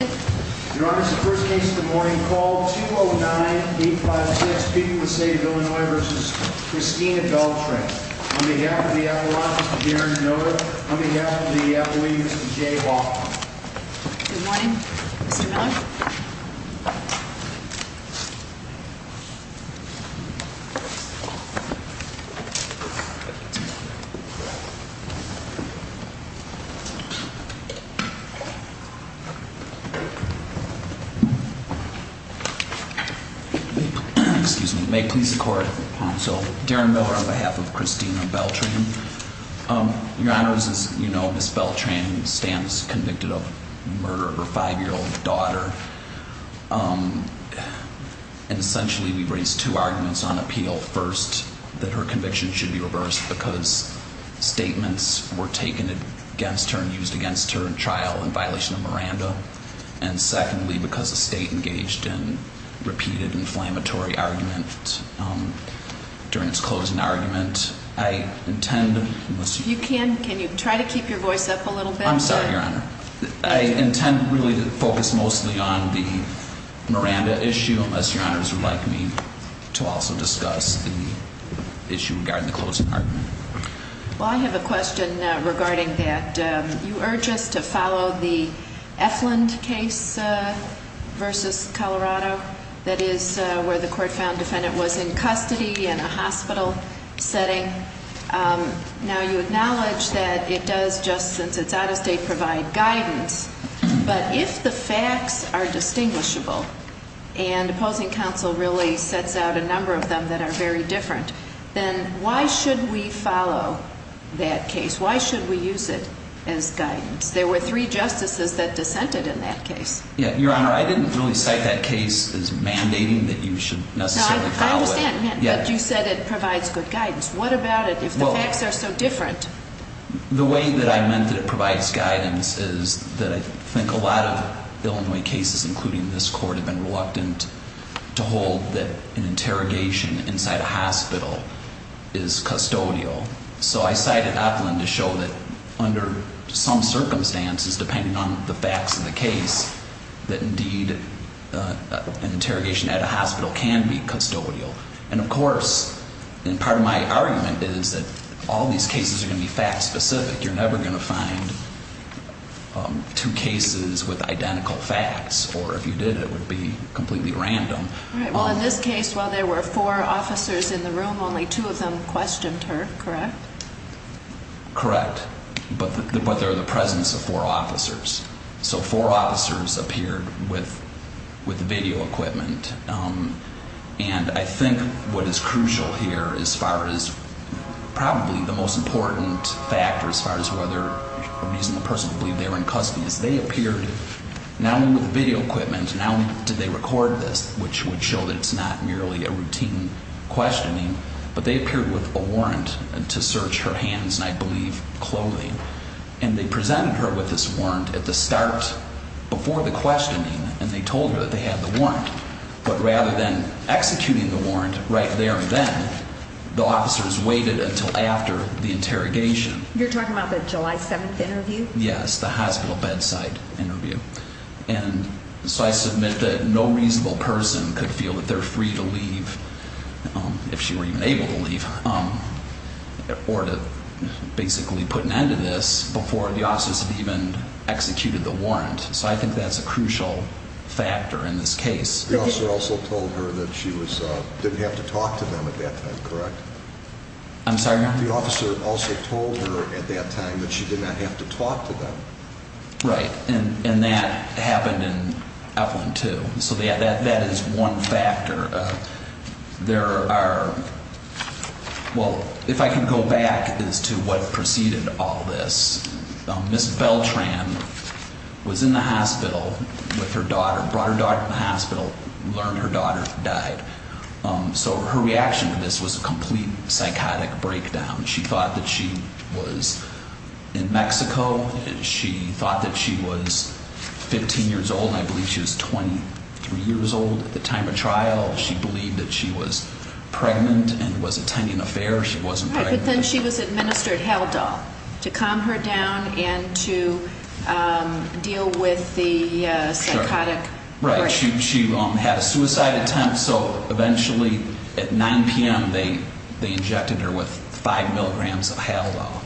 Your Honor, this is the first case of the morning. Call 209-856-People of the State of Illinois v. Christina Beltran. On behalf of the Avalanche, Mr. Darren Noda. On behalf of the Avalanche, Mr. Jay Walker. Good morning, Mr. Miller. Excuse me. May it please the Court. So, Darren Miller on behalf of Christina Beltran. Your Honor, as you know, Ms. Beltran stands convicted of murder of her five-year-old daughter. And essentially, we've raised two arguments on appeal. First, that her conviction should be reversed because statements were taken against her and used against her in trial in violation of Miranda. And secondly, because the State engaged in repeated inflammatory argument during its closing argument. I intend to... If you can, can you try to keep your voice up a little bit? I'm sorry, Your Honor. I intend really to focus mostly on the Miranda issue, unless Your Honors would like me to also discuss the issue regarding the closing argument. Well, I have a question regarding that. You urge us to follow the Efland case versus Colorado. That is where the court found defendant was in custody in a hospital setting. Now, you acknowledge that it does, just since it's out of state, provide guidance. But if the facts are distinguishable, and opposing counsel really sets out a number of them that are very different, then why should we follow that case? Why should we use it as guidance? There were three justices that dissented in that case. Your Honor, I didn't really cite that case as mandating that you should necessarily follow it. No, I understand, but you said it provides good guidance. What about it if the facts are so different? The way that I meant that it provides guidance is that I think a lot of Illinois cases, including this court, have been reluctant to hold that an interrogation inside a hospital is custodial. So I cited Efland to show that under some circumstances, depending on the facts of the case, that indeed an interrogation at a hospital can be custodial. And of course, part of my argument is that all these cases are going to be fact-specific. You're never going to find two cases with identical facts, or if you did, it would be completely random. All right, well, in this case, while there were four officers in the room, only two of them questioned her, correct? Correct, but they're in the presence of four officers. So four officers appeared with video equipment. And I think what is crucial here as far as probably the most important factor as far as whether a reasonable person would believe they were in custody is they appeared not only with video equipment, not only did they record this, which would show that it's not merely a routine questioning, but they appeared with a warrant to search her hands and, I believe, clothing. And they presented her with this warrant at the start before the questioning, and they told her that they had the warrant. But rather than executing the warrant right there and then, the officers waited until after the interrogation. You're talking about the July 7th interview? Yes, the hospital bedside interview. And so I submit that no reasonable person could feel that they're free to leave, if she were even able to leave, or to basically put an end to this before the officers had even executed the warrant. So I think that's a crucial factor in this case. The officer also told her that she didn't have to talk to them at that time, correct? I'm sorry? The officer also told her at that time that she did not have to talk to them. Right, and that happened in Evelyn, too. So that is one factor. There are, well, if I can go back as to what preceded all this, Ms. Beltran was in the hospital with her daughter, brought her daughter to the hospital, learned her daughter died. So her reaction to this was a complete psychotic breakdown. She thought that she was in Mexico. She thought that she was 15 years old, and I believe she was 23 years old at the time of trial. She believed that she was pregnant and was attending a fair. She wasn't pregnant. Right, but then she was administered Haldol to calm her down and to deal with the psychotic breakdown. Right, she had a suicide attempt, so eventually at 9 p.m. they injected her with 5 milligrams of Haldol,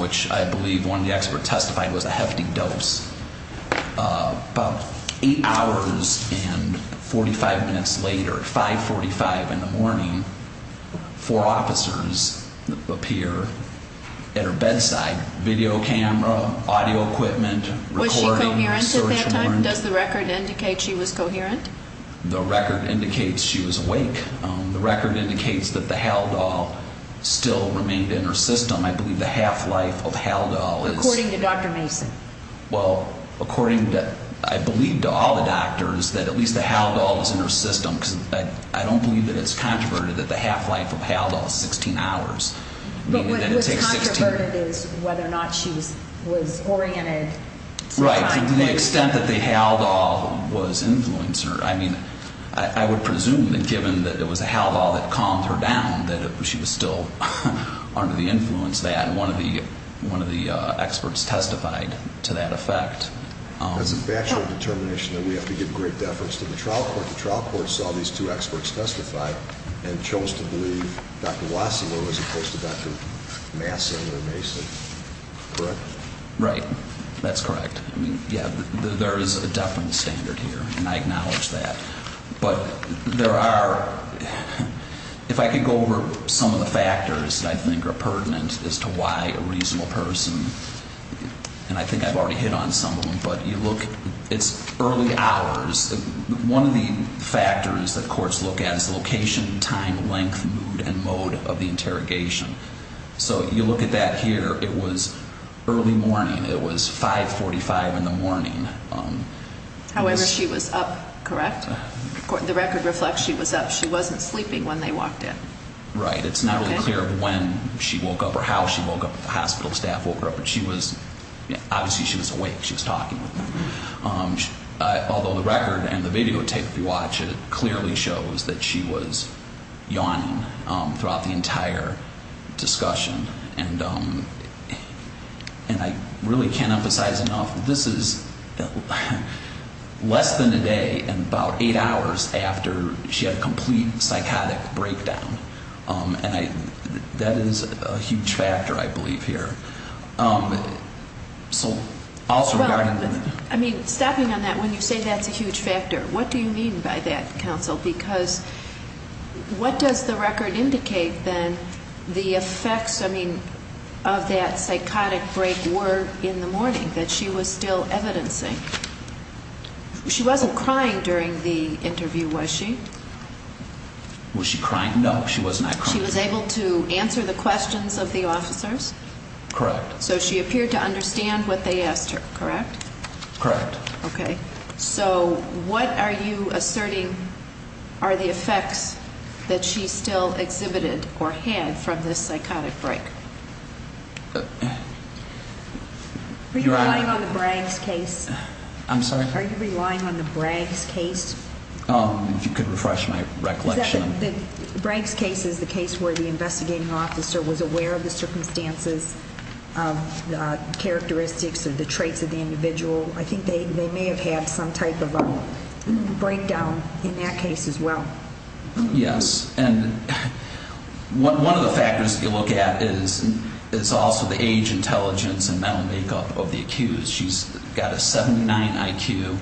which I believe one of the experts testified was a hefty dose. About eight hours and 45 minutes later, at 5.45 in the morning, four officers appear at her bedside, video camera, audio equipment, recording, search warrant. And does the record indicate she was coherent? The record indicates she was awake. The record indicates that the Haldol still remained in her system. I believe the half-life of Haldol is... According to Dr. Mason. Well, according to, I believe to all the doctors that at least the Haldol is in her system because I don't believe that it's controverted that the half-life of Haldol is 16 hours. Right, to the extent that the Haldol was influencing her. I mean, I would presume that given that it was a Haldol that calmed her down, that she was still under the influence that one of the experts testified to that effect. That's a bachelor determination that we have to give great deference to the trial court. The trial court saw these two experts testify and chose to believe Dr. Wassilor as opposed to Dr. Masson or Mason, correct? Right, that's correct. Yeah, there is a deference standard here, and I acknowledge that. But there are... If I could go over some of the factors that I think are pertinent as to why a reasonable person, and I think I've already hit on some of them, but you look, it's early hours. One of the factors that courts look at is location, time, length, mood, and mode of the interrogation. So you look at that here. It was early morning. It was 545 in the morning. However, she was up, correct? The record reflects she was up. She wasn't sleeping when they walked in. Right, it's not really clear when she woke up or how she woke up. The hospital staff woke her up, but she was, obviously she was awake. She was talking with them. Although the record and the videotape that you watch, it clearly shows that she was yawning throughout the entire discussion. And I really can't emphasize enough, this is less than a day and about eight hours after she had a complete psychotic breakdown. And that is a huge factor, I believe, here. So also regarding... I mean, stopping on that, when you say that's a huge factor, what do you mean by that, counsel? Because what does the record indicate, then, the effects, I mean, of that psychotic break were in the morning, that she was still evidencing? She wasn't crying during the interview, was she? Was she crying? No, she was not crying. She was able to answer the questions of the officers? Correct. So she appeared to understand what they asked her, correct? Correct. Okay. So what are you asserting are the effects that she still exhibited or had from this psychotic break? Are you relying on the Braggs case? I'm sorry? Are you relying on the Braggs case? If you could refresh my recollection. The Braggs case is the case where the investigating officer was aware of the circumstances, characteristics, or the traits of the individual. I think they may have had some type of a breakdown in that case as well. Yes. And one of the factors that you look at is also the age, intelligence, and mental makeup of the accused. She's got a 79 IQ,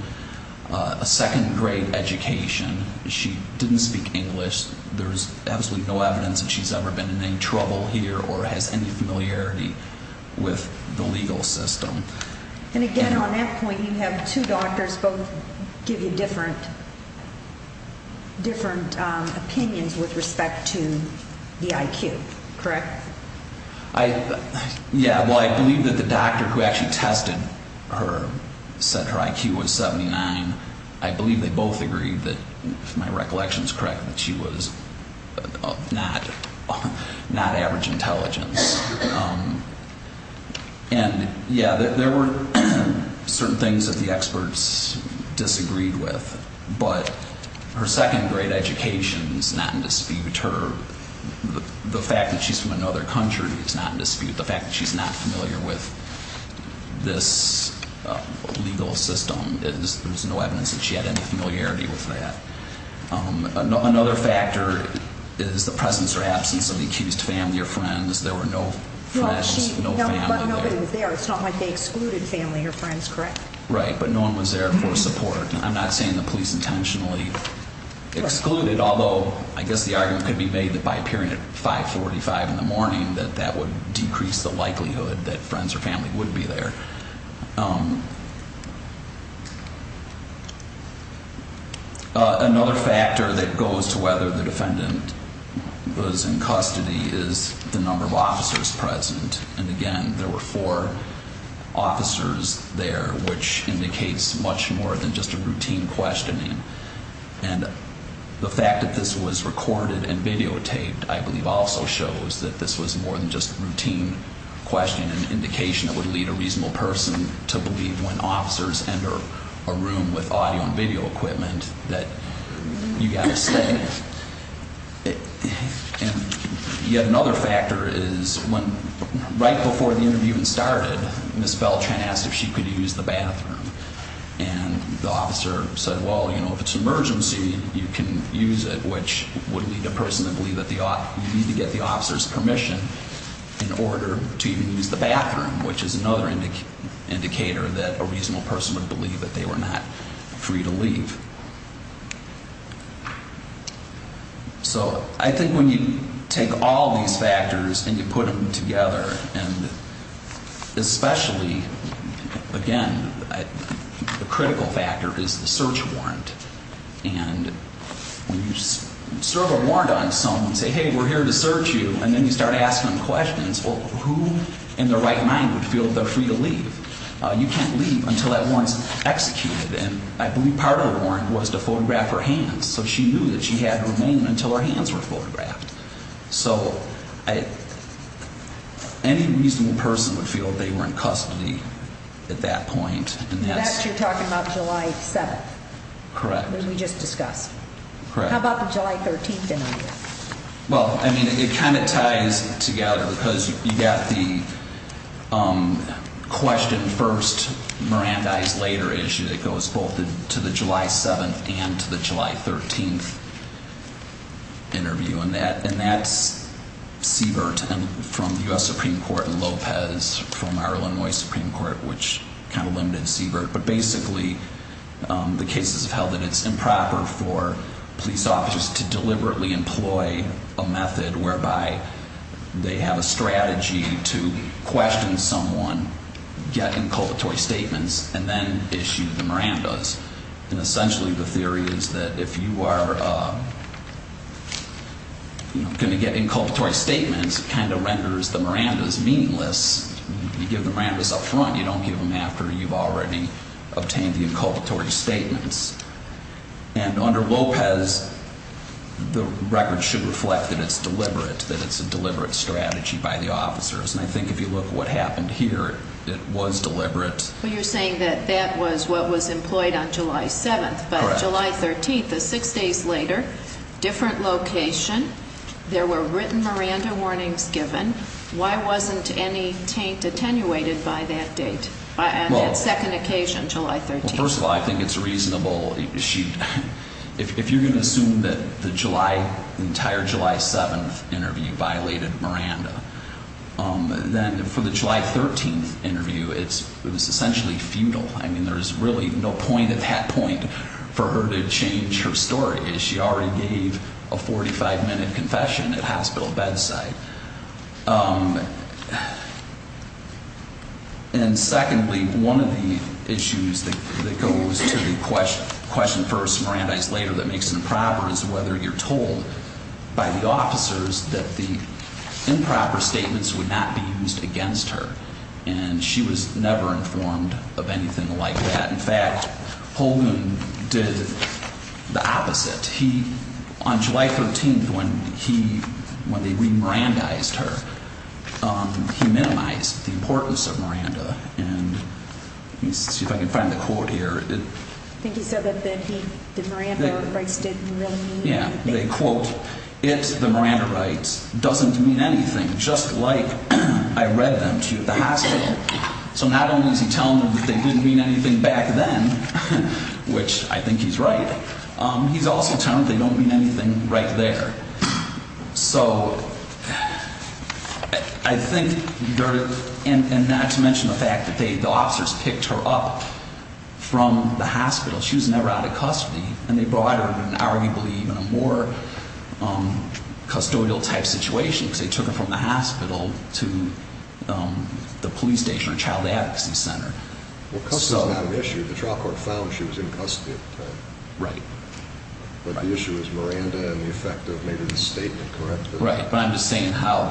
a second-grade education. She didn't speak English. There's absolutely no evidence that she's ever been in any trouble here or has any familiarity with the legal system. And, again, on that point, you have two doctors both give you different opinions with respect to the IQ, correct? Yeah, well, I believe that the doctor who actually tested her said her IQ was 79. I believe they both agreed that, if my recollection is correct, that she was not average intelligence. And, yeah, there were certain things that the experts disagreed with, but her second-grade education is not in dispute. The fact that she's from another country is not in dispute. The fact that she's not familiar with this legal system is there's no evidence that she had any familiarity with that. Another factor is the presence or absence of the accused family or friends. There were no friends, no family there. But nobody was there. It's not like they excluded family or friends, correct? Right, but no one was there for support. I'm not saying the police intentionally excluded, although I guess the argument could be made that by appearing at 545 in the morning that that would decrease the likelihood that friends or family would be there. Another factor that goes to whether the defendant was in custody is the number of officers present. And, again, there were four officers there, which indicates much more than just a routine questioning. And the fact that this was recorded and videotaped, I believe, also shows that this was more than just a routine questioning and indication that would lead a reasonable person to believe when officers enter a room with audio and video equipment that you've got to stay. And yet another factor is when right before the interview even started, Ms. Beltran asked if she could use the bathroom. And the officer said, well, you know, if it's an emergency, you can use it, which would lead a person to believe that you need to get the officer's permission in order to even use the bathroom, which is another indicator that a reasonable person would believe that they were not free to leave. So I think when you take all these factors and you put them together, and especially, again, the critical factor is the search warrant. And when you serve a warrant on someone and say, hey, we're here to search you, and then you start asking them questions, well, who in their right mind would feel they're free to leave? You can't leave until that warrant's executed. And I believe part of the warrant was to photograph her hands, so she knew that she had her name until her hands were photographed. So any reasonable person would feel they were in custody at that point. And that's you're talking about July 7th. Correct. We just discussed. Correct. How about the July 13th interview? Well, I mean, it kind of ties together because you got the question first, Mirandize later issue that goes both to the July 7th and to the July 13th interview. And that's Siebert from the U.S. Supreme Court and Lopez from our Illinois Supreme Court, which kind of limited Siebert. But basically, the cases have held that it's improper for police officers to deliberately employ a method whereby they have a strategy to question someone, get inculpatory statements, and then issue the Mirandize. And essentially the theory is that if you are going to get inculpatory statements, it kind of renders the Mirandize meaningless. You give the Mirandize up front. You don't give them after you've already obtained the inculpatory statements. And under Lopez, the record should reflect that it's deliberate, that it's a deliberate strategy by the officers. And I think if you look at what happened here, it was deliberate. Well, you're saying that that was what was employed on July 7th. Correct. But July 13th is six days later, different location. There were written Miranda warnings given. Why wasn't any taint attenuated by that date, by that second occasion, July 13th? Well, first of all, I think it's reasonable. If you're going to assume that the entire July 7th interview violated Miranda, then for the July 13th interview, it was essentially futile. I mean, there's really no point at that point for her to change her story. She already gave a 45-minute confession at hospital bedside. And secondly, one of the issues that goes to the question first, Mirandize later, that makes it improper is whether you're told by the officers that the improper statements would not be used against her. And she was never informed of anything like that. In fact, Holguin did the opposite. He, on July 13th, when he, when they re-Mirandized her, he minimized the importance of Miranda. And let me see if I can find the quote here. I think he said that he, that Miranda rights didn't really mean anything. Yeah. They quote, it, the Miranda rights, doesn't mean anything, just like I read them to you at the hospital. So not only is he telling them that they didn't mean anything back then, which I think he's right. He's also telling them they don't mean anything right there. So I think they're, and not to mention the fact that they, the officers picked her up from the hospital. She was never out of custody. And they brought her in arguably in a more custodial type situation because they took her from the hospital to the police station or child advocacy center. Well, custody is not an issue. Right. But the issue is Miranda and the effect of maybe the statement, correct? Right. But I'm just saying how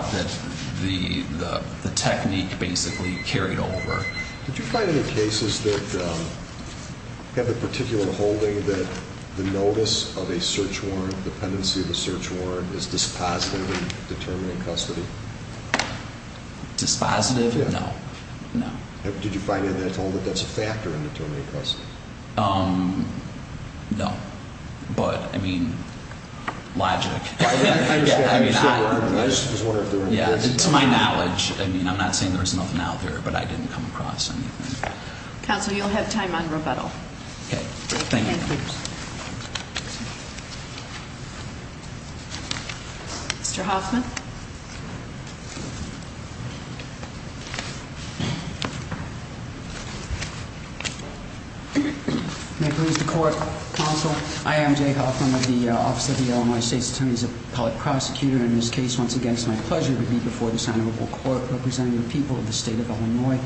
the technique basically carried over. Did you find any cases that have a particular holding that the notice of a search warrant, dependency of a search warrant, is dispositive in determining custody? Dispositive? Yeah. No. No. Did you find anything at all that that's a factor in determining custody? No. But, I mean, logic. I understand. I just was wondering if there were any cases. To my knowledge. I mean, I'm not saying there's nothing out there, but I didn't come across anything. Counsel, you'll have time on rebuttal. Okay. Thank you. Mr. Hoffman. May it please the court, counsel. I am Jay Hoffman of the Office of the Illinois State's Attorney's Appellate Prosecutor. In this case, once again, it's my pleasure to be before this honorable court representing the people of the state of Illinois.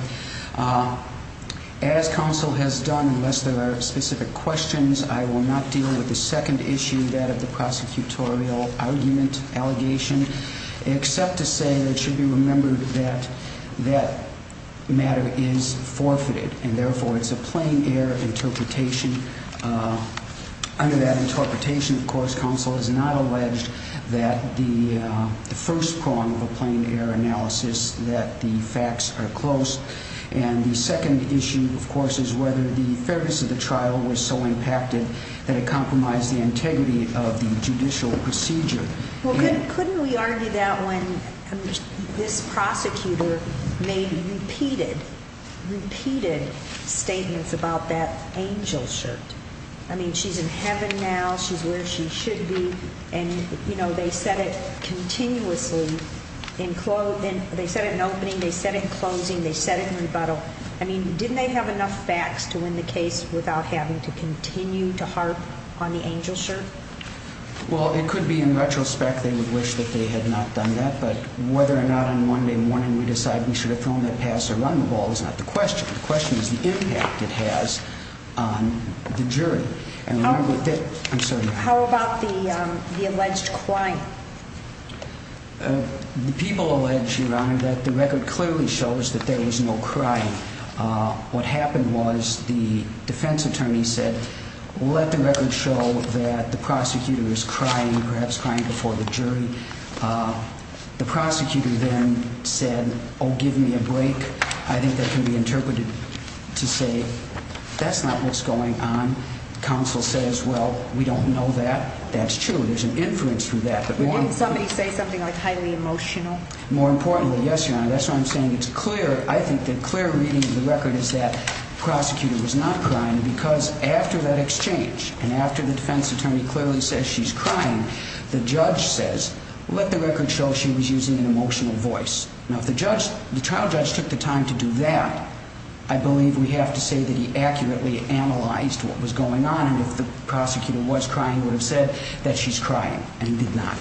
As counsel has done, unless there are specific questions, I will not deal with the second issue, that of the prosecutorial argument, allegation, except to say that it should be remembered that that matter is forfeited. And, therefore, it's a plain air interpretation. Under that interpretation, of course, counsel is not alleged that the first prong of a plain air analysis that the facts are close. And the second issue, of course, is whether the fairness of the trial was so impacted that it compromised the integrity of the judicial procedure. Well, couldn't we argue that when this prosecutor made repeated, repeated statements about that angel shirt? I mean, she's in heaven now. She's where she should be. And, you know, they said it continuously. They said it in opening. They said it in closing. They said it in rebuttal. I mean, didn't they have enough facts to win the case without having to continue to harp on the angel shirt? Well, it could be in retrospect they would wish that they had not done that. But whether or not on Monday morning we decide we should have thrown that pass or run the ball is not the question. The question is the impact it has on the jury. How about the alleged crime? The people allege, Your Honor, that the record clearly shows that there was no crime. What happened was the defense attorney said, well, let the record show that the prosecutor is crying, perhaps crying before the jury. The prosecutor then said, oh, give me a break. I think that can be interpreted to say that's not what's going on. Counsel says, well, we don't know that. That's true. There's an inference to that. But didn't somebody say something like highly emotional? More importantly, yes, Your Honor, that's what I'm saying. It's clear. I think the clear reading of the record is that the prosecutor was not crying because after that exchange and after the defense attorney clearly says she's crying, the judge says, let the record show she was using an emotional voice. Now, if the trial judge took the time to do that, I believe we have to say that he accurately analyzed what was going on. And if the prosecutor was crying, he would have said that she's crying and did not.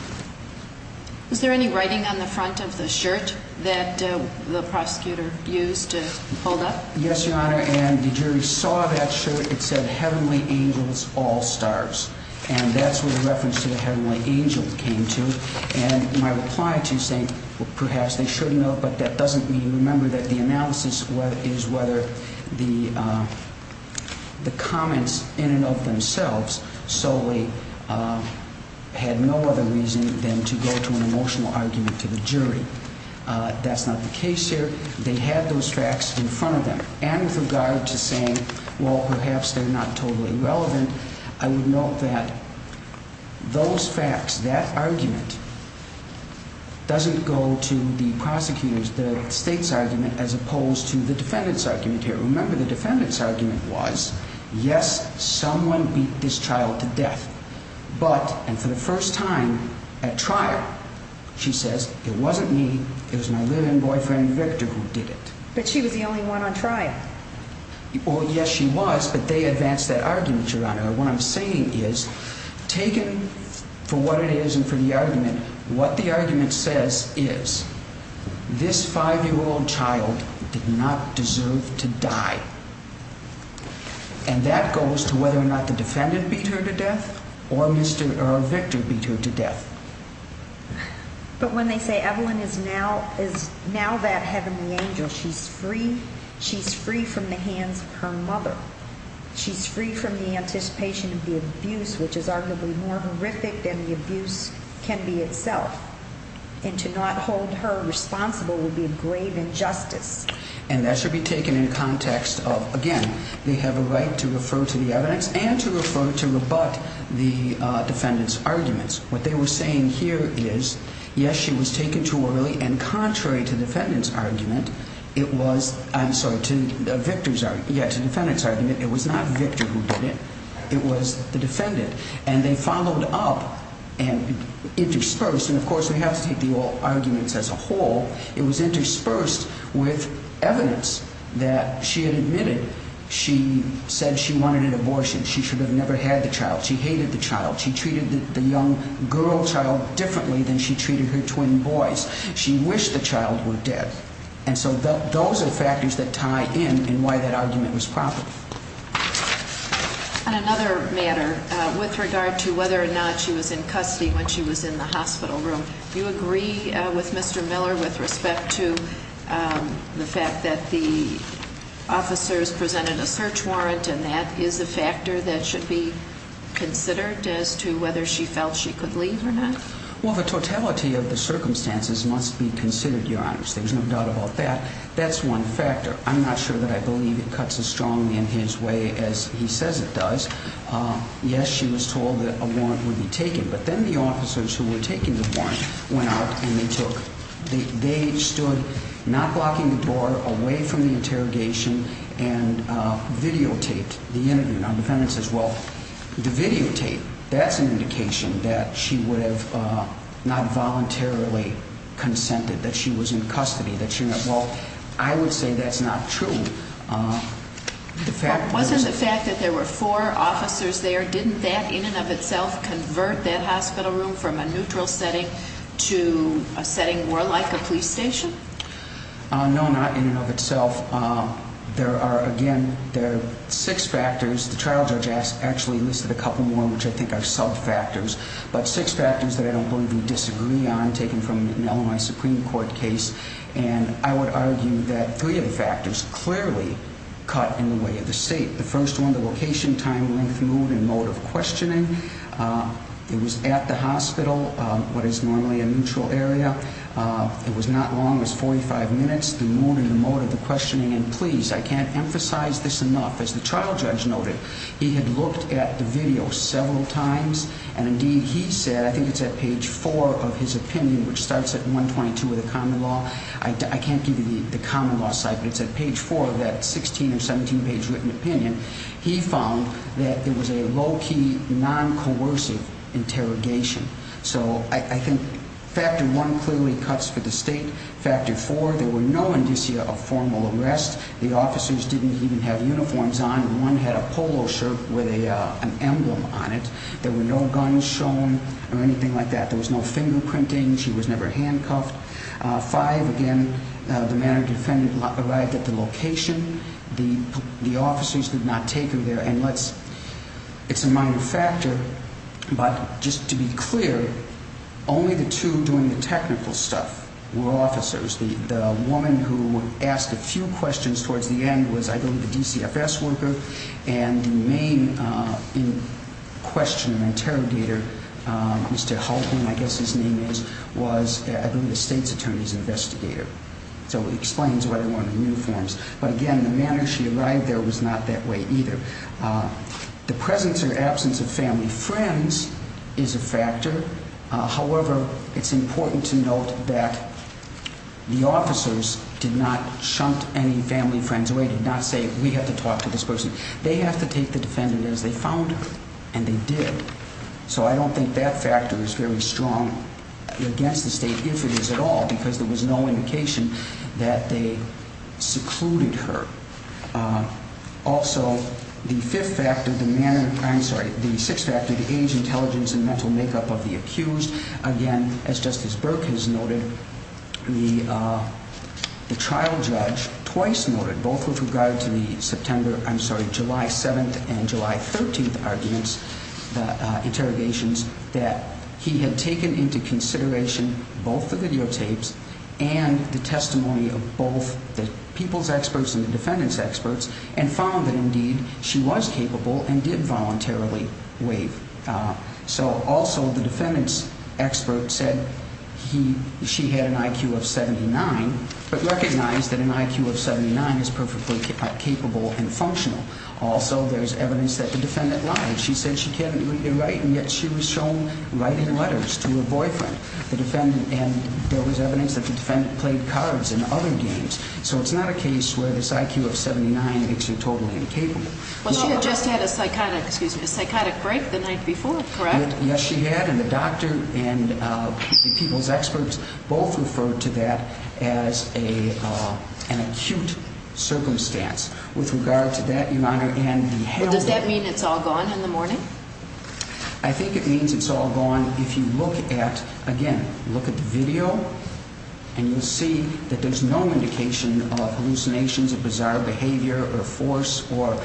Is there any writing on the front of the shirt that the prosecutor used to hold up? Yes, Your Honor. And the jury saw that shirt. It said heavenly angels, all stars. And that's where the reference to the heavenly angels came to. And my reply to you is saying, well, perhaps they should know, but that doesn't mean you remember that the analysis is whether the comments in and of themselves solely had no other reason than to go to an emotional argument to the jury. That's not the case here. They had those facts in front of them. And with regard to saying, well, perhaps they're not totally relevant, I would note that those facts, that argument, doesn't go to the prosecutor's, the state's argument as opposed to the defendant's argument here. Remember, the defendant's argument was, yes, someone beat this child to death. But, and for the first time at trial, she says, it wasn't me. It was my live-in boyfriend, Victor, who did it. But she was the only one on trial. Well, yes, she was, but they advanced that argument, Your Honor. What I'm saying is, taken for what it is and for the argument, what the argument says is, this 5-year-old child did not deserve to die. And that goes to whether or not the defendant beat her to death or Victor beat her to death. But when they say Evelyn is now that heavenly angel, she's free. She's free from the hands of her mother. She's free from the anticipation of the abuse, which is arguably more horrific than the abuse can be itself. And to not hold her responsible would be a grave injustice. And that should be taken in context of, again, they have a right to refer to the evidence and to refer, to rebut the defendant's arguments. What they were saying here is, yes, she was taken too early. And contrary to defendant's argument, it was, I'm sorry, to Victor's argument, yeah, to defendant's argument, it was not Victor who did it. It was the defendant. And they followed up and interspersed. And, of course, we have to take the arguments as a whole. It was interspersed with evidence that she had admitted she said she wanted an abortion. She should have never had the child. She hated the child. She treated the young girl child differently than she treated her twin boys. She wished the child were dead. And so those are factors that tie in in why that argument was proper. On another matter, with regard to whether or not she was in custody when she was in the hospital room, do you agree with Mr. Miller with respect to the fact that the officers presented a search warrant and that is a factor that should be considered as to whether she felt she could leave or not? Well, the totality of the circumstances must be considered, Your Honors. There's no doubt about that. That's one factor. I'm not sure that I believe it cuts as strongly in his way as he says it does. Yes, she was told that a warrant would be taken. But then the officers who were taking the warrant went out and they took, they stood, not blocking the door, away from the interrogation and videotaped the interview. Now, the defendant says, well, the videotape, that's an indication that she would have not voluntarily consented, that she was in custody, that she was not. Well, I would say that's not true. Wasn't the fact that there were four officers there, didn't that in and of itself convert that hospital room from a neutral setting to a setting more like a police station? No, not in and of itself. There are, again, there are six factors. The trial judge actually listed a couple more, which I think are sub-factors, but six factors that I don't believe we disagree on, taken from an Illinois Supreme Court case, and I would argue that three of the factors clearly cut in the way of the state. The first one, the location, time, length, mood, and mode of questioning. It was at the hospital, what is normally a neutral area. It was not as long as 45 minutes, the mood and the mode of the questioning. And please, I can't emphasize this enough. As the trial judge noted, he had looked at the video several times, and indeed he said, I think it's at page four of his opinion, which starts at 122 of the common law. I can't give you the common law site, but it's at page four of that 16 or 17-page written opinion. He found that it was a low-key, non-coercive interrogation. So I think factor one clearly cuts for the state. Factor four, there were no indicia of formal arrest. The officers didn't even have uniforms on. One had a polo shirt with an emblem on it. There were no guns shown or anything like that. There was no fingerprinting. She was never handcuffed. Five, again, the mannered defendant arrived at the location. The officers did not take her there. And it's a minor factor, but just to be clear, only the two doing the technical stuff were officers. The woman who asked a few questions towards the end was, I believe, a DCFS worker. And the main questioner, interrogator, Mr. Hultman, I guess his name is, was, I believe, a state's attorney's investigator. So it explains why there weren't uniforms. But, again, the manner she arrived there was not that way either. The presence or absence of family friends is a factor. However, it's important to note that the officers did not shunt any family friends away, did not say, we have to talk to this person. They have to take the defendant as they found her, and they did. So I don't think that factor is very strong against the state, if it is at all, because there was no indication that they secluded her. Also, the fifth factor, the manner, I'm sorry, the sixth factor, the age, intelligence, and mental makeup of the accused. Again, as Justice Burke has noted, the trial judge twice noted, both with regard to the September, I'm sorry, July 7th and July 13th arguments, the interrogations, that he had taken into consideration both the videotapes and the testimony of both the people's experts and the defendant's experts, and found that, indeed, she was capable and did voluntarily waive. So, also, the defendant's expert said she had an IQ of 79, but recognized that an IQ of 79 is perfectly capable and functional. Also, there's evidence that the defendant lied. She said she can't read or write, and yet she was shown writing letters to her boyfriend. And there was evidence that the defendant played cards and other games. So it's not a case where this IQ of 79 makes her totally incapable. Well, she had just had a psychotic break the night before, correct? Yes, she had, and the doctor and the people's experts both referred to that as an acute circumstance. With regard to that, Your Honor, and the held- Does that mean it's all gone in the morning? I think it means it's all gone if you look at, again, look at the video, and you'll see that there's no indication of hallucinations, of bizarre behavior, or force, or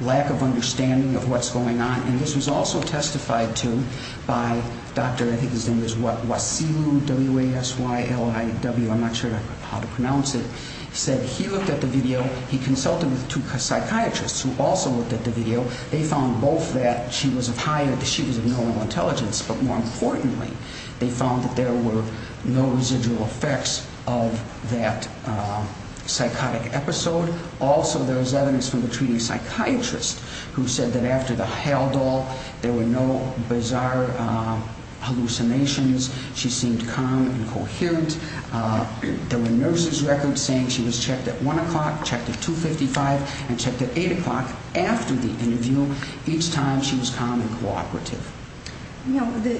lack of understanding of what's going on. And this was also testified to by Dr. I think his name was Wasilu, W-A-S-Y-L-I-W. I'm not sure how to pronounce it. He said he looked at the video. He consulted with two psychiatrists who also looked at the video. They found both that she was of high or that she was of normal intelligence, but more importantly, they found that there were no residual effects of that psychotic episode. Also, there was evidence from the treating psychiatrist who said that after the HALDOL, there were no bizarre hallucinations. She seemed calm and coherent. There were nurses' records saying she was checked at 1 o'clock, checked at 2.55, and checked at 8 o'clock after the interview each time she was calm and cooperative. You know, the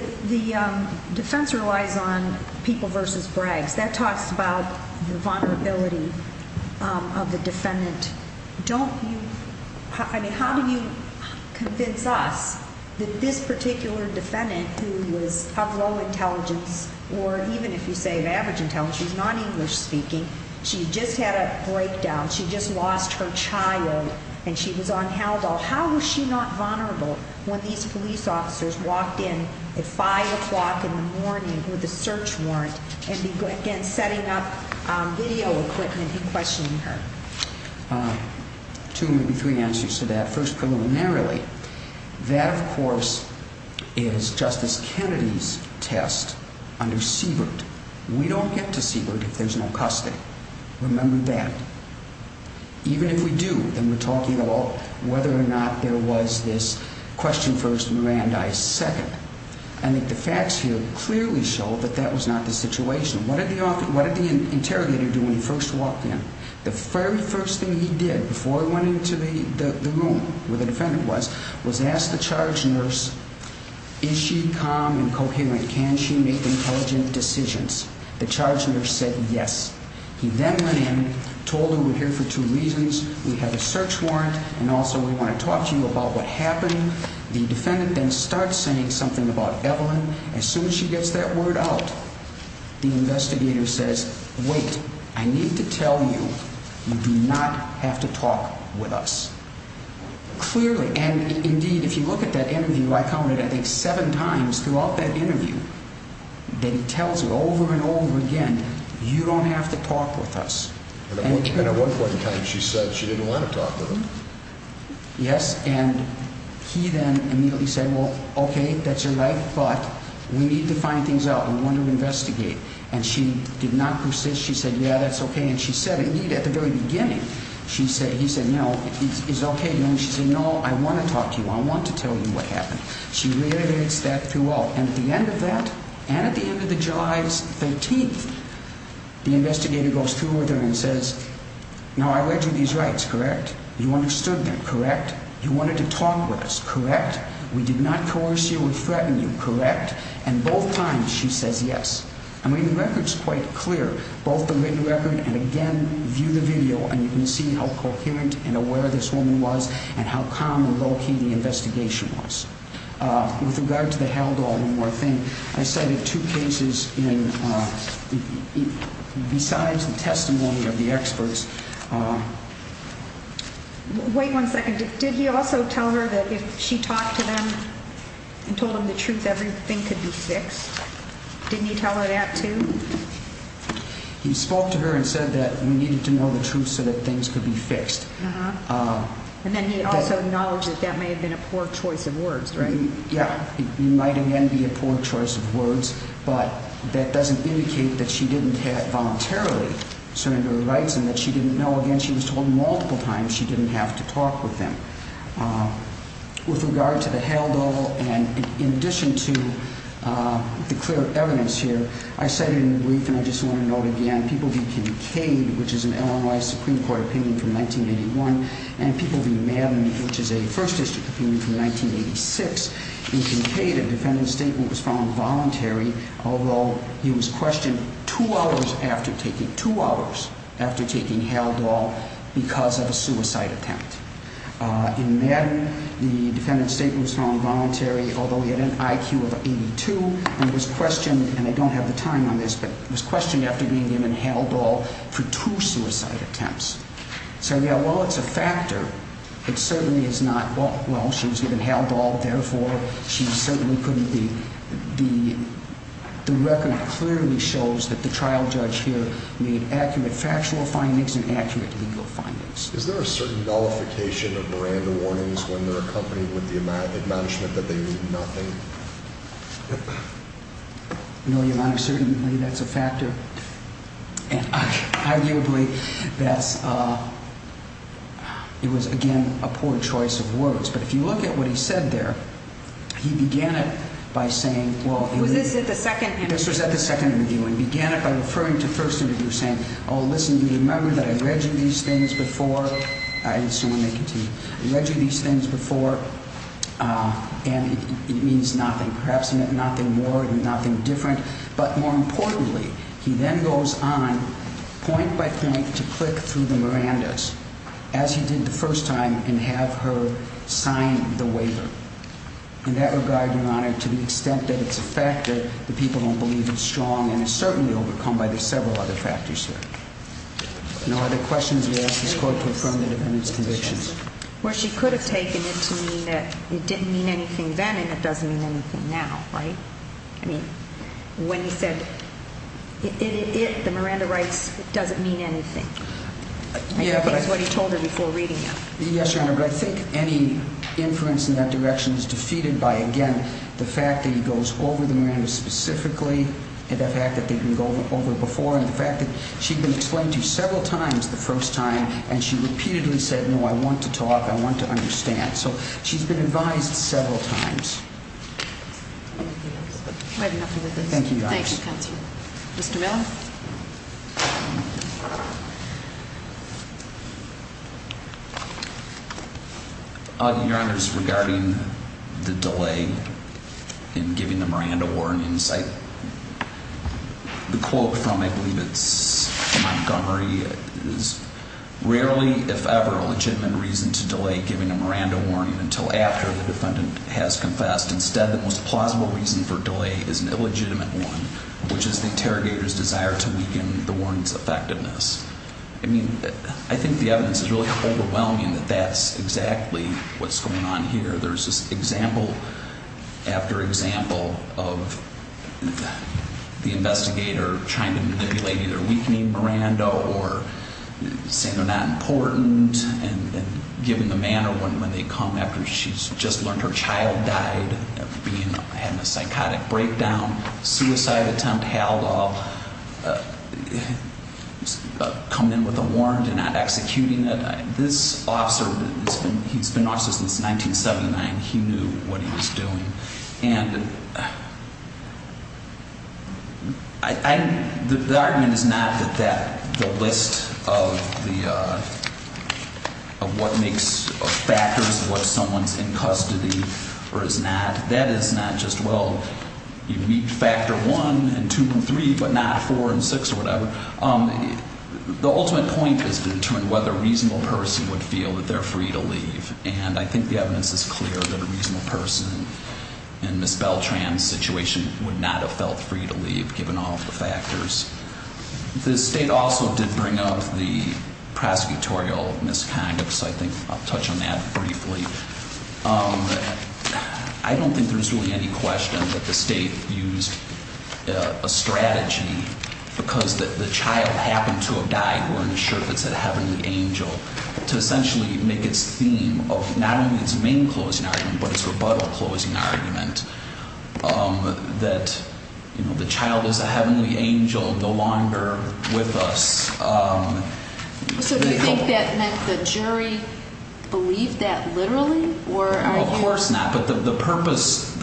defense relies on people versus brags. That talks about the vulnerability of the defendant. Don't you-I mean, how do you convince us that this particular defendant, who was of low intelligence, or even if you say of average intelligence, she's not English-speaking, she just had a breakdown, she just lost her child, and she was on HALDOL. How was she not vulnerable when these police officers walked in at 5 o'clock in the morning with a search warrant and, again, setting up video equipment and questioning her? Two, maybe three answers to that. That, of course, is Justice Kennedy's test under Siebert. We don't get to Siebert if there's no custody. Remember that. Even if we do, then we're talking about whether or not there was this question first, Mirandai second. I think the facts here clearly show that that was not the situation. What did the interrogator do when he first walked in? The very first thing he did before he went into the room where the defendant was was ask the charge nurse, is she calm and coherent? Can she make intelligent decisions? The charge nurse said yes. He then went in, told her we're here for two reasons. We have a search warrant, and also we want to talk to you about what happened. The defendant then starts saying something about Evelyn. As soon as she gets that word out, the investigator says, wait, I need to tell you you do not have to talk with us. Clearly, and indeed, if you look at that interview, I counted, I think, seven times throughout that interview that he tells her over and over again, you don't have to talk with us. And at one point in time, she said she didn't want to talk with him. Yes, and he then immediately said, well, okay, that's all right, but we need to find things out. We want to investigate. And she did not persist. She said, yeah, that's okay. And she said, indeed, at the very beginning, he said, no, it's okay. And she said, no, I want to talk to you. I want to tell you what happened. She reiterates that throughout. And at the end of that, and at the end of the July 13th, the investigator goes through with her and says, no, I read you these rights, correct? You understood them, correct? You wanted to talk with us, correct? We did not coerce you or threaten you, correct? And both times she says yes. I mean, the record's quite clear, both the written record and, again, view the video, and you can see how coherent and aware this woman was and how calm and low-key the investigation was. With regard to the Haldol, one more thing. I cited two cases besides the testimony of the experts. Wait one second. Did he also tell her that if she talked to them and told them the truth, everything could be fixed? Didn't he tell her that, too? He spoke to her and said that we needed to know the truth so that things could be fixed. And then he also acknowledged that that may have been a poor choice of words, right? Yeah, it might, again, be a poor choice of words, but that doesn't indicate that she didn't voluntarily surrender the rights and that she didn't know. Again, she was told multiple times she didn't have to talk with them. With regard to the Haldol, and in addition to the clear evidence here, I cited in the brief, and I just want to note again, People v. Kincaid, which is an Illinois Supreme Court opinion from 1981, and People v. Madden, which is a First District opinion from 1986. In Kincaid, a defendant's statement was found voluntary, although he was questioned two hours after taking Haldol because of a suicide attempt. In Madden, the defendant's statement was found voluntary, although he had an IQ of 82 and was questioned, and I don't have the time on this, but was questioned after being given Haldol for two suicide attempts. So, yeah, while it's a factor, it certainly is not, well, she was given Haldol, therefore she certainly couldn't be, the record clearly shows that the trial judge here made accurate factual findings and accurate legal findings. Is there a certain nullification of brand warnings when they're accompanied with the admonishment that they mean nothing? No, Your Honor, certainly that's a factor. Arguably, that's, it was, again, a poor choice of words. But if you look at what he said there, he began it by saying, well, Was this at the second interview? This was at the second interview, and he began it by referring to first interview, saying, Oh, listen, do you remember that I read you these things before? I assume they continue. I read you these things before, and it means nothing. Perhaps nothing more, nothing different. But more importantly, he then goes on point by point to click through the Mirandas, as he did the first time, and have her sign the waiver. In that regard, Your Honor, to the extent that it's a factor, the people don't believe it's strong, and it's certainly overcome by the several other factors here. No other questions? We ask this Court to affirm the defendant's convictions. Well, she could have taken it to mean that it didn't mean anything then and it doesn't mean anything now, right? I mean, when he said it, the Miranda rights, it doesn't mean anything. I think that's what he told her before reading it. Yes, Your Honor, but I think any inference in that direction is defeated by, again, the fact that he goes over the Mirandas specifically, and the fact that they can go over before, and the fact that she'd been explained to several times the first time, and she repeatedly said, no, I want to talk, I want to understand. So she's been advised several times. Anything else? We have nothing with this. Thank you, Your Honor. Thank you, Counselor. Mr. Miller? Your Honor, just regarding the delay in giving the Miranda warrant insight, the quote from, I believe it's Montgomery, is, rarely, if ever, a legitimate reason to delay giving a Miranda warning until after the defendant has confessed. Instead, the most plausible reason for delay is an illegitimate one, which is the interrogator's desire to weaken the warning's effectiveness. I mean, I think the evidence is really overwhelming that that's exactly what's going on here. There's this example after example of the investigator trying to manipulate, either weakening Miranda or saying they're not important, and giving the manner when they come after she's just learned her child died, having a psychotic breakdown, suicide attempt, coming in with a warrant and not executing it. This officer, he's been an officer since 1979. He knew what he was doing. And the argument is not that the list of what makes factors what someone's in custody or is not. That is not just, well, you meet factor one and two and three, but not four and six or whatever. The ultimate point is to determine whether a reasonable person would feel that they're free to leave. And I think the evidence is clear that a reasonable person in Ms. Beltran's situation would not have felt free to leave given all of the factors. The State also did bring up the prosecutorial misconduct, so I think I'll touch on that briefly. I don't think there's really any question that the State used a strategy because the child happened to have died wearing a shirt that said heavenly angel to essentially make its theme of not only its main closing argument but its rebuttal closing argument that the child is a heavenly angel no longer with us. So do you think that meant the jury believed that literally? Of course not, but the purpose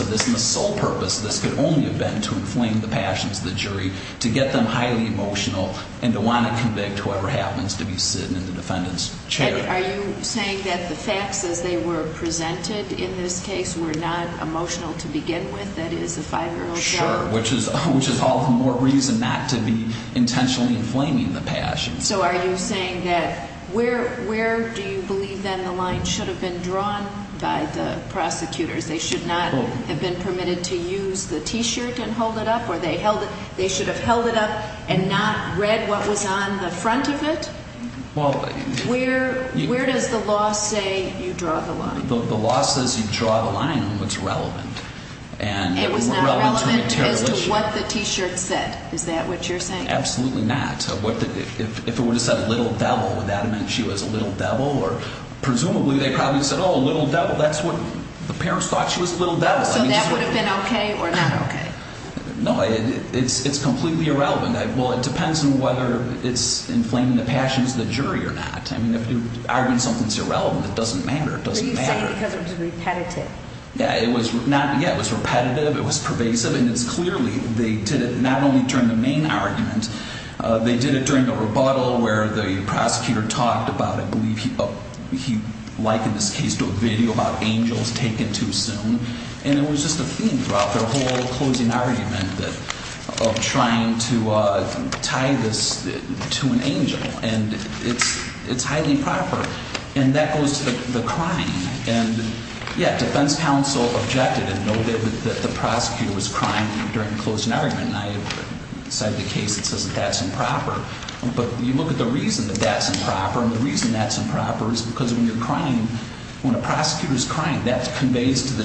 of this and the sole purpose of this could only have been to inflame the passions of the jury to get them highly emotional and to want to convict whoever happens to be sitting in the defendant's chair. Are you saying that the facts as they were presented in this case were not emotional to begin with? That it is a five-year-old child? Sure, which is all the more reason not to be intentionally inflaming the passions. So are you saying that where do you believe then the line should have been drawn by the prosecutors? They should not have been permitted to use the T-shirt and hold it up? Or they should have held it up and not read what was on the front of it? Where does the law say you draw the line? The law says you draw the line on what's relevant. And it was not relevant as to what the T-shirt said, is that what you're saying? Absolutely not. If it were to say little devil, would that have meant she was a little devil? Presumably they probably would have said, oh, little devil, that's what the parents thought she was a little devil. So that would have been okay or not okay? No, it's completely irrelevant. Well, it depends on whether it's inflaming the passions of the jury or not. I mean, if you argue something's irrelevant, it doesn't matter. But you say because it was repetitive. Yeah, it was repetitive, it was pervasive, and it's clearly they did it not only during the main argument. They did it during the rebuttal where the prosecutor talked about, I believe he likened this case to a video about angels taken too soon. And it was just a theme throughout their whole closing argument of trying to tie this to an angel. And it's highly improper. And that goes to the crime. And, yeah, defense counsel objected and noted that the prosecutor was crying during the closing argument. And I have cited a case that says that that's improper. But you look at the reason that that's improper, and the reason that's improper is because when you're crying, when a prosecutor's crying, that conveys to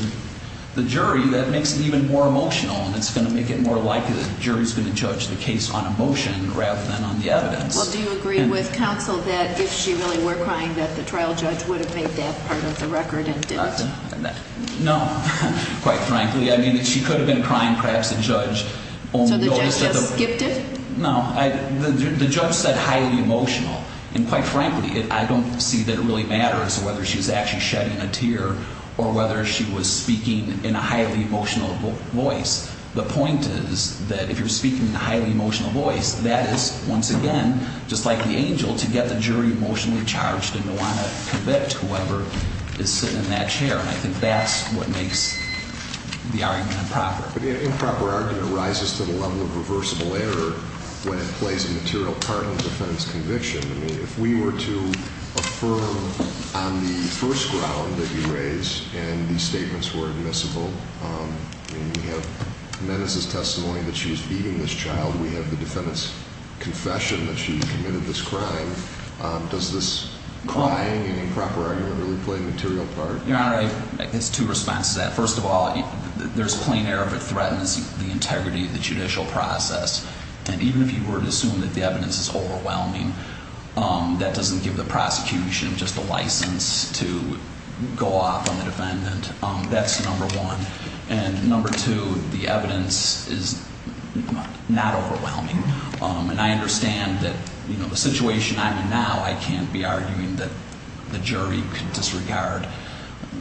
the jury. That makes it even more emotional, and it's going to make it more likely the jury's going to judge the case on emotion rather than on the evidence. Well, do you agree with counsel that if she really were crying, that the trial judge would have made that part of the record and didn't? No, quite frankly. I mean, she could have been crying, perhaps the judge only noticed. So the judge just skipped it? No. The judge said highly emotional. And quite frankly, I don't see that it really matters whether she was actually shedding a tear or whether she was speaking in a highly emotional voice. The point is that if you're speaking in a highly emotional voice, that is, once again, just like the angel, to get the jury emotionally charged and to want to convict whoever is sitting in that chair. And I think that's what makes the argument improper. But the improper argument rises to the level of reversible error when it plays a material part in the defendant's conviction. I mean, if we were to affirm on the first ground that you raised and these statements were admissible, I mean, we have the menace's testimony that she was beating this child. We have the defendant's confession that she committed this crime. Does this crying and improper argument really play a material part? Your Honor, I guess two responses to that. First of all, there's plain error if it threatens the integrity of the judicial process. And even if you were to assume that the evidence is overwhelming, that doesn't give the prosecution just a license to go off on the defendant. That's number one. And number two, the evidence is not overwhelming. And I understand that, you know, the situation I'm in now, I can't be arguing that the jury could disregard,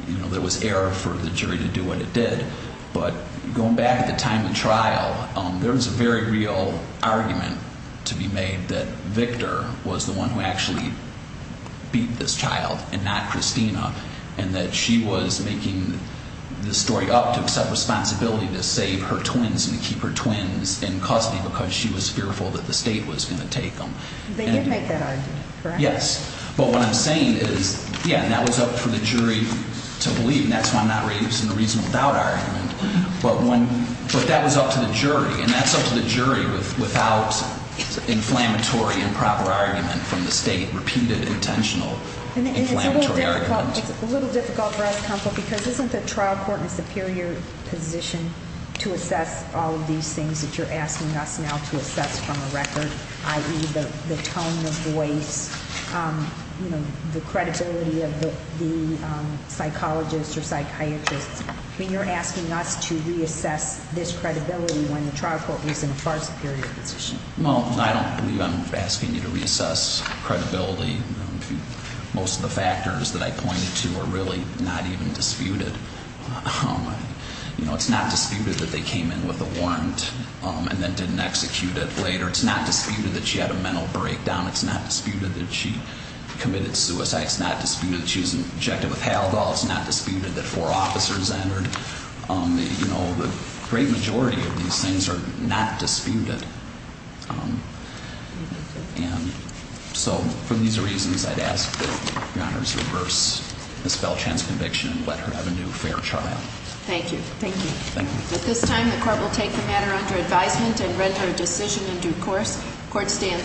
you know, there was error for the jury to do what it did. But going back at the time of the trial, there was a very real argument to be made that Victor was the one who actually beat this child and not Christina, and that she was making the story up to accept responsibility to save her twins and to keep her twins in custody because she was fearful that the state was going to take them. They did make that argument, correct? Yes. But what I'm saying is, yeah, that was up for the jury to believe, and that's why I'm not raising the reasonable doubt argument. But that was up to the jury, and that's up to the jury without inflammatory improper argument from the state, repeated intentional inflammatory argument. And it's a little difficult for us, counsel, because isn't the trial court in a superior position to assess all of these things that you're asking us now to assess from a record, i.e., the tone of voice, you know, the credibility of the psychologist or psychiatrist? I mean, you're asking us to reassess this credibility when the trial court is in a far superior position. Well, I don't believe I'm asking you to reassess credibility. Most of the factors that I pointed to are really not even disputed. You know, it's not disputed that they came in with a warrant and then didn't execute it later. It's not disputed that she had a mental breakdown. It's not disputed that she committed suicide. It's not disputed that she was injected with Haldol. It's not disputed that four officers entered. You know, the great majority of these things are not disputed. And so for these reasons, I'd ask that Your Honors reverse the spell chance conviction and let her have a new fair trial. Thank you. Thank you. Thank you. At this time, the court will take the matter under advisement and render a decision in due course. Court stands.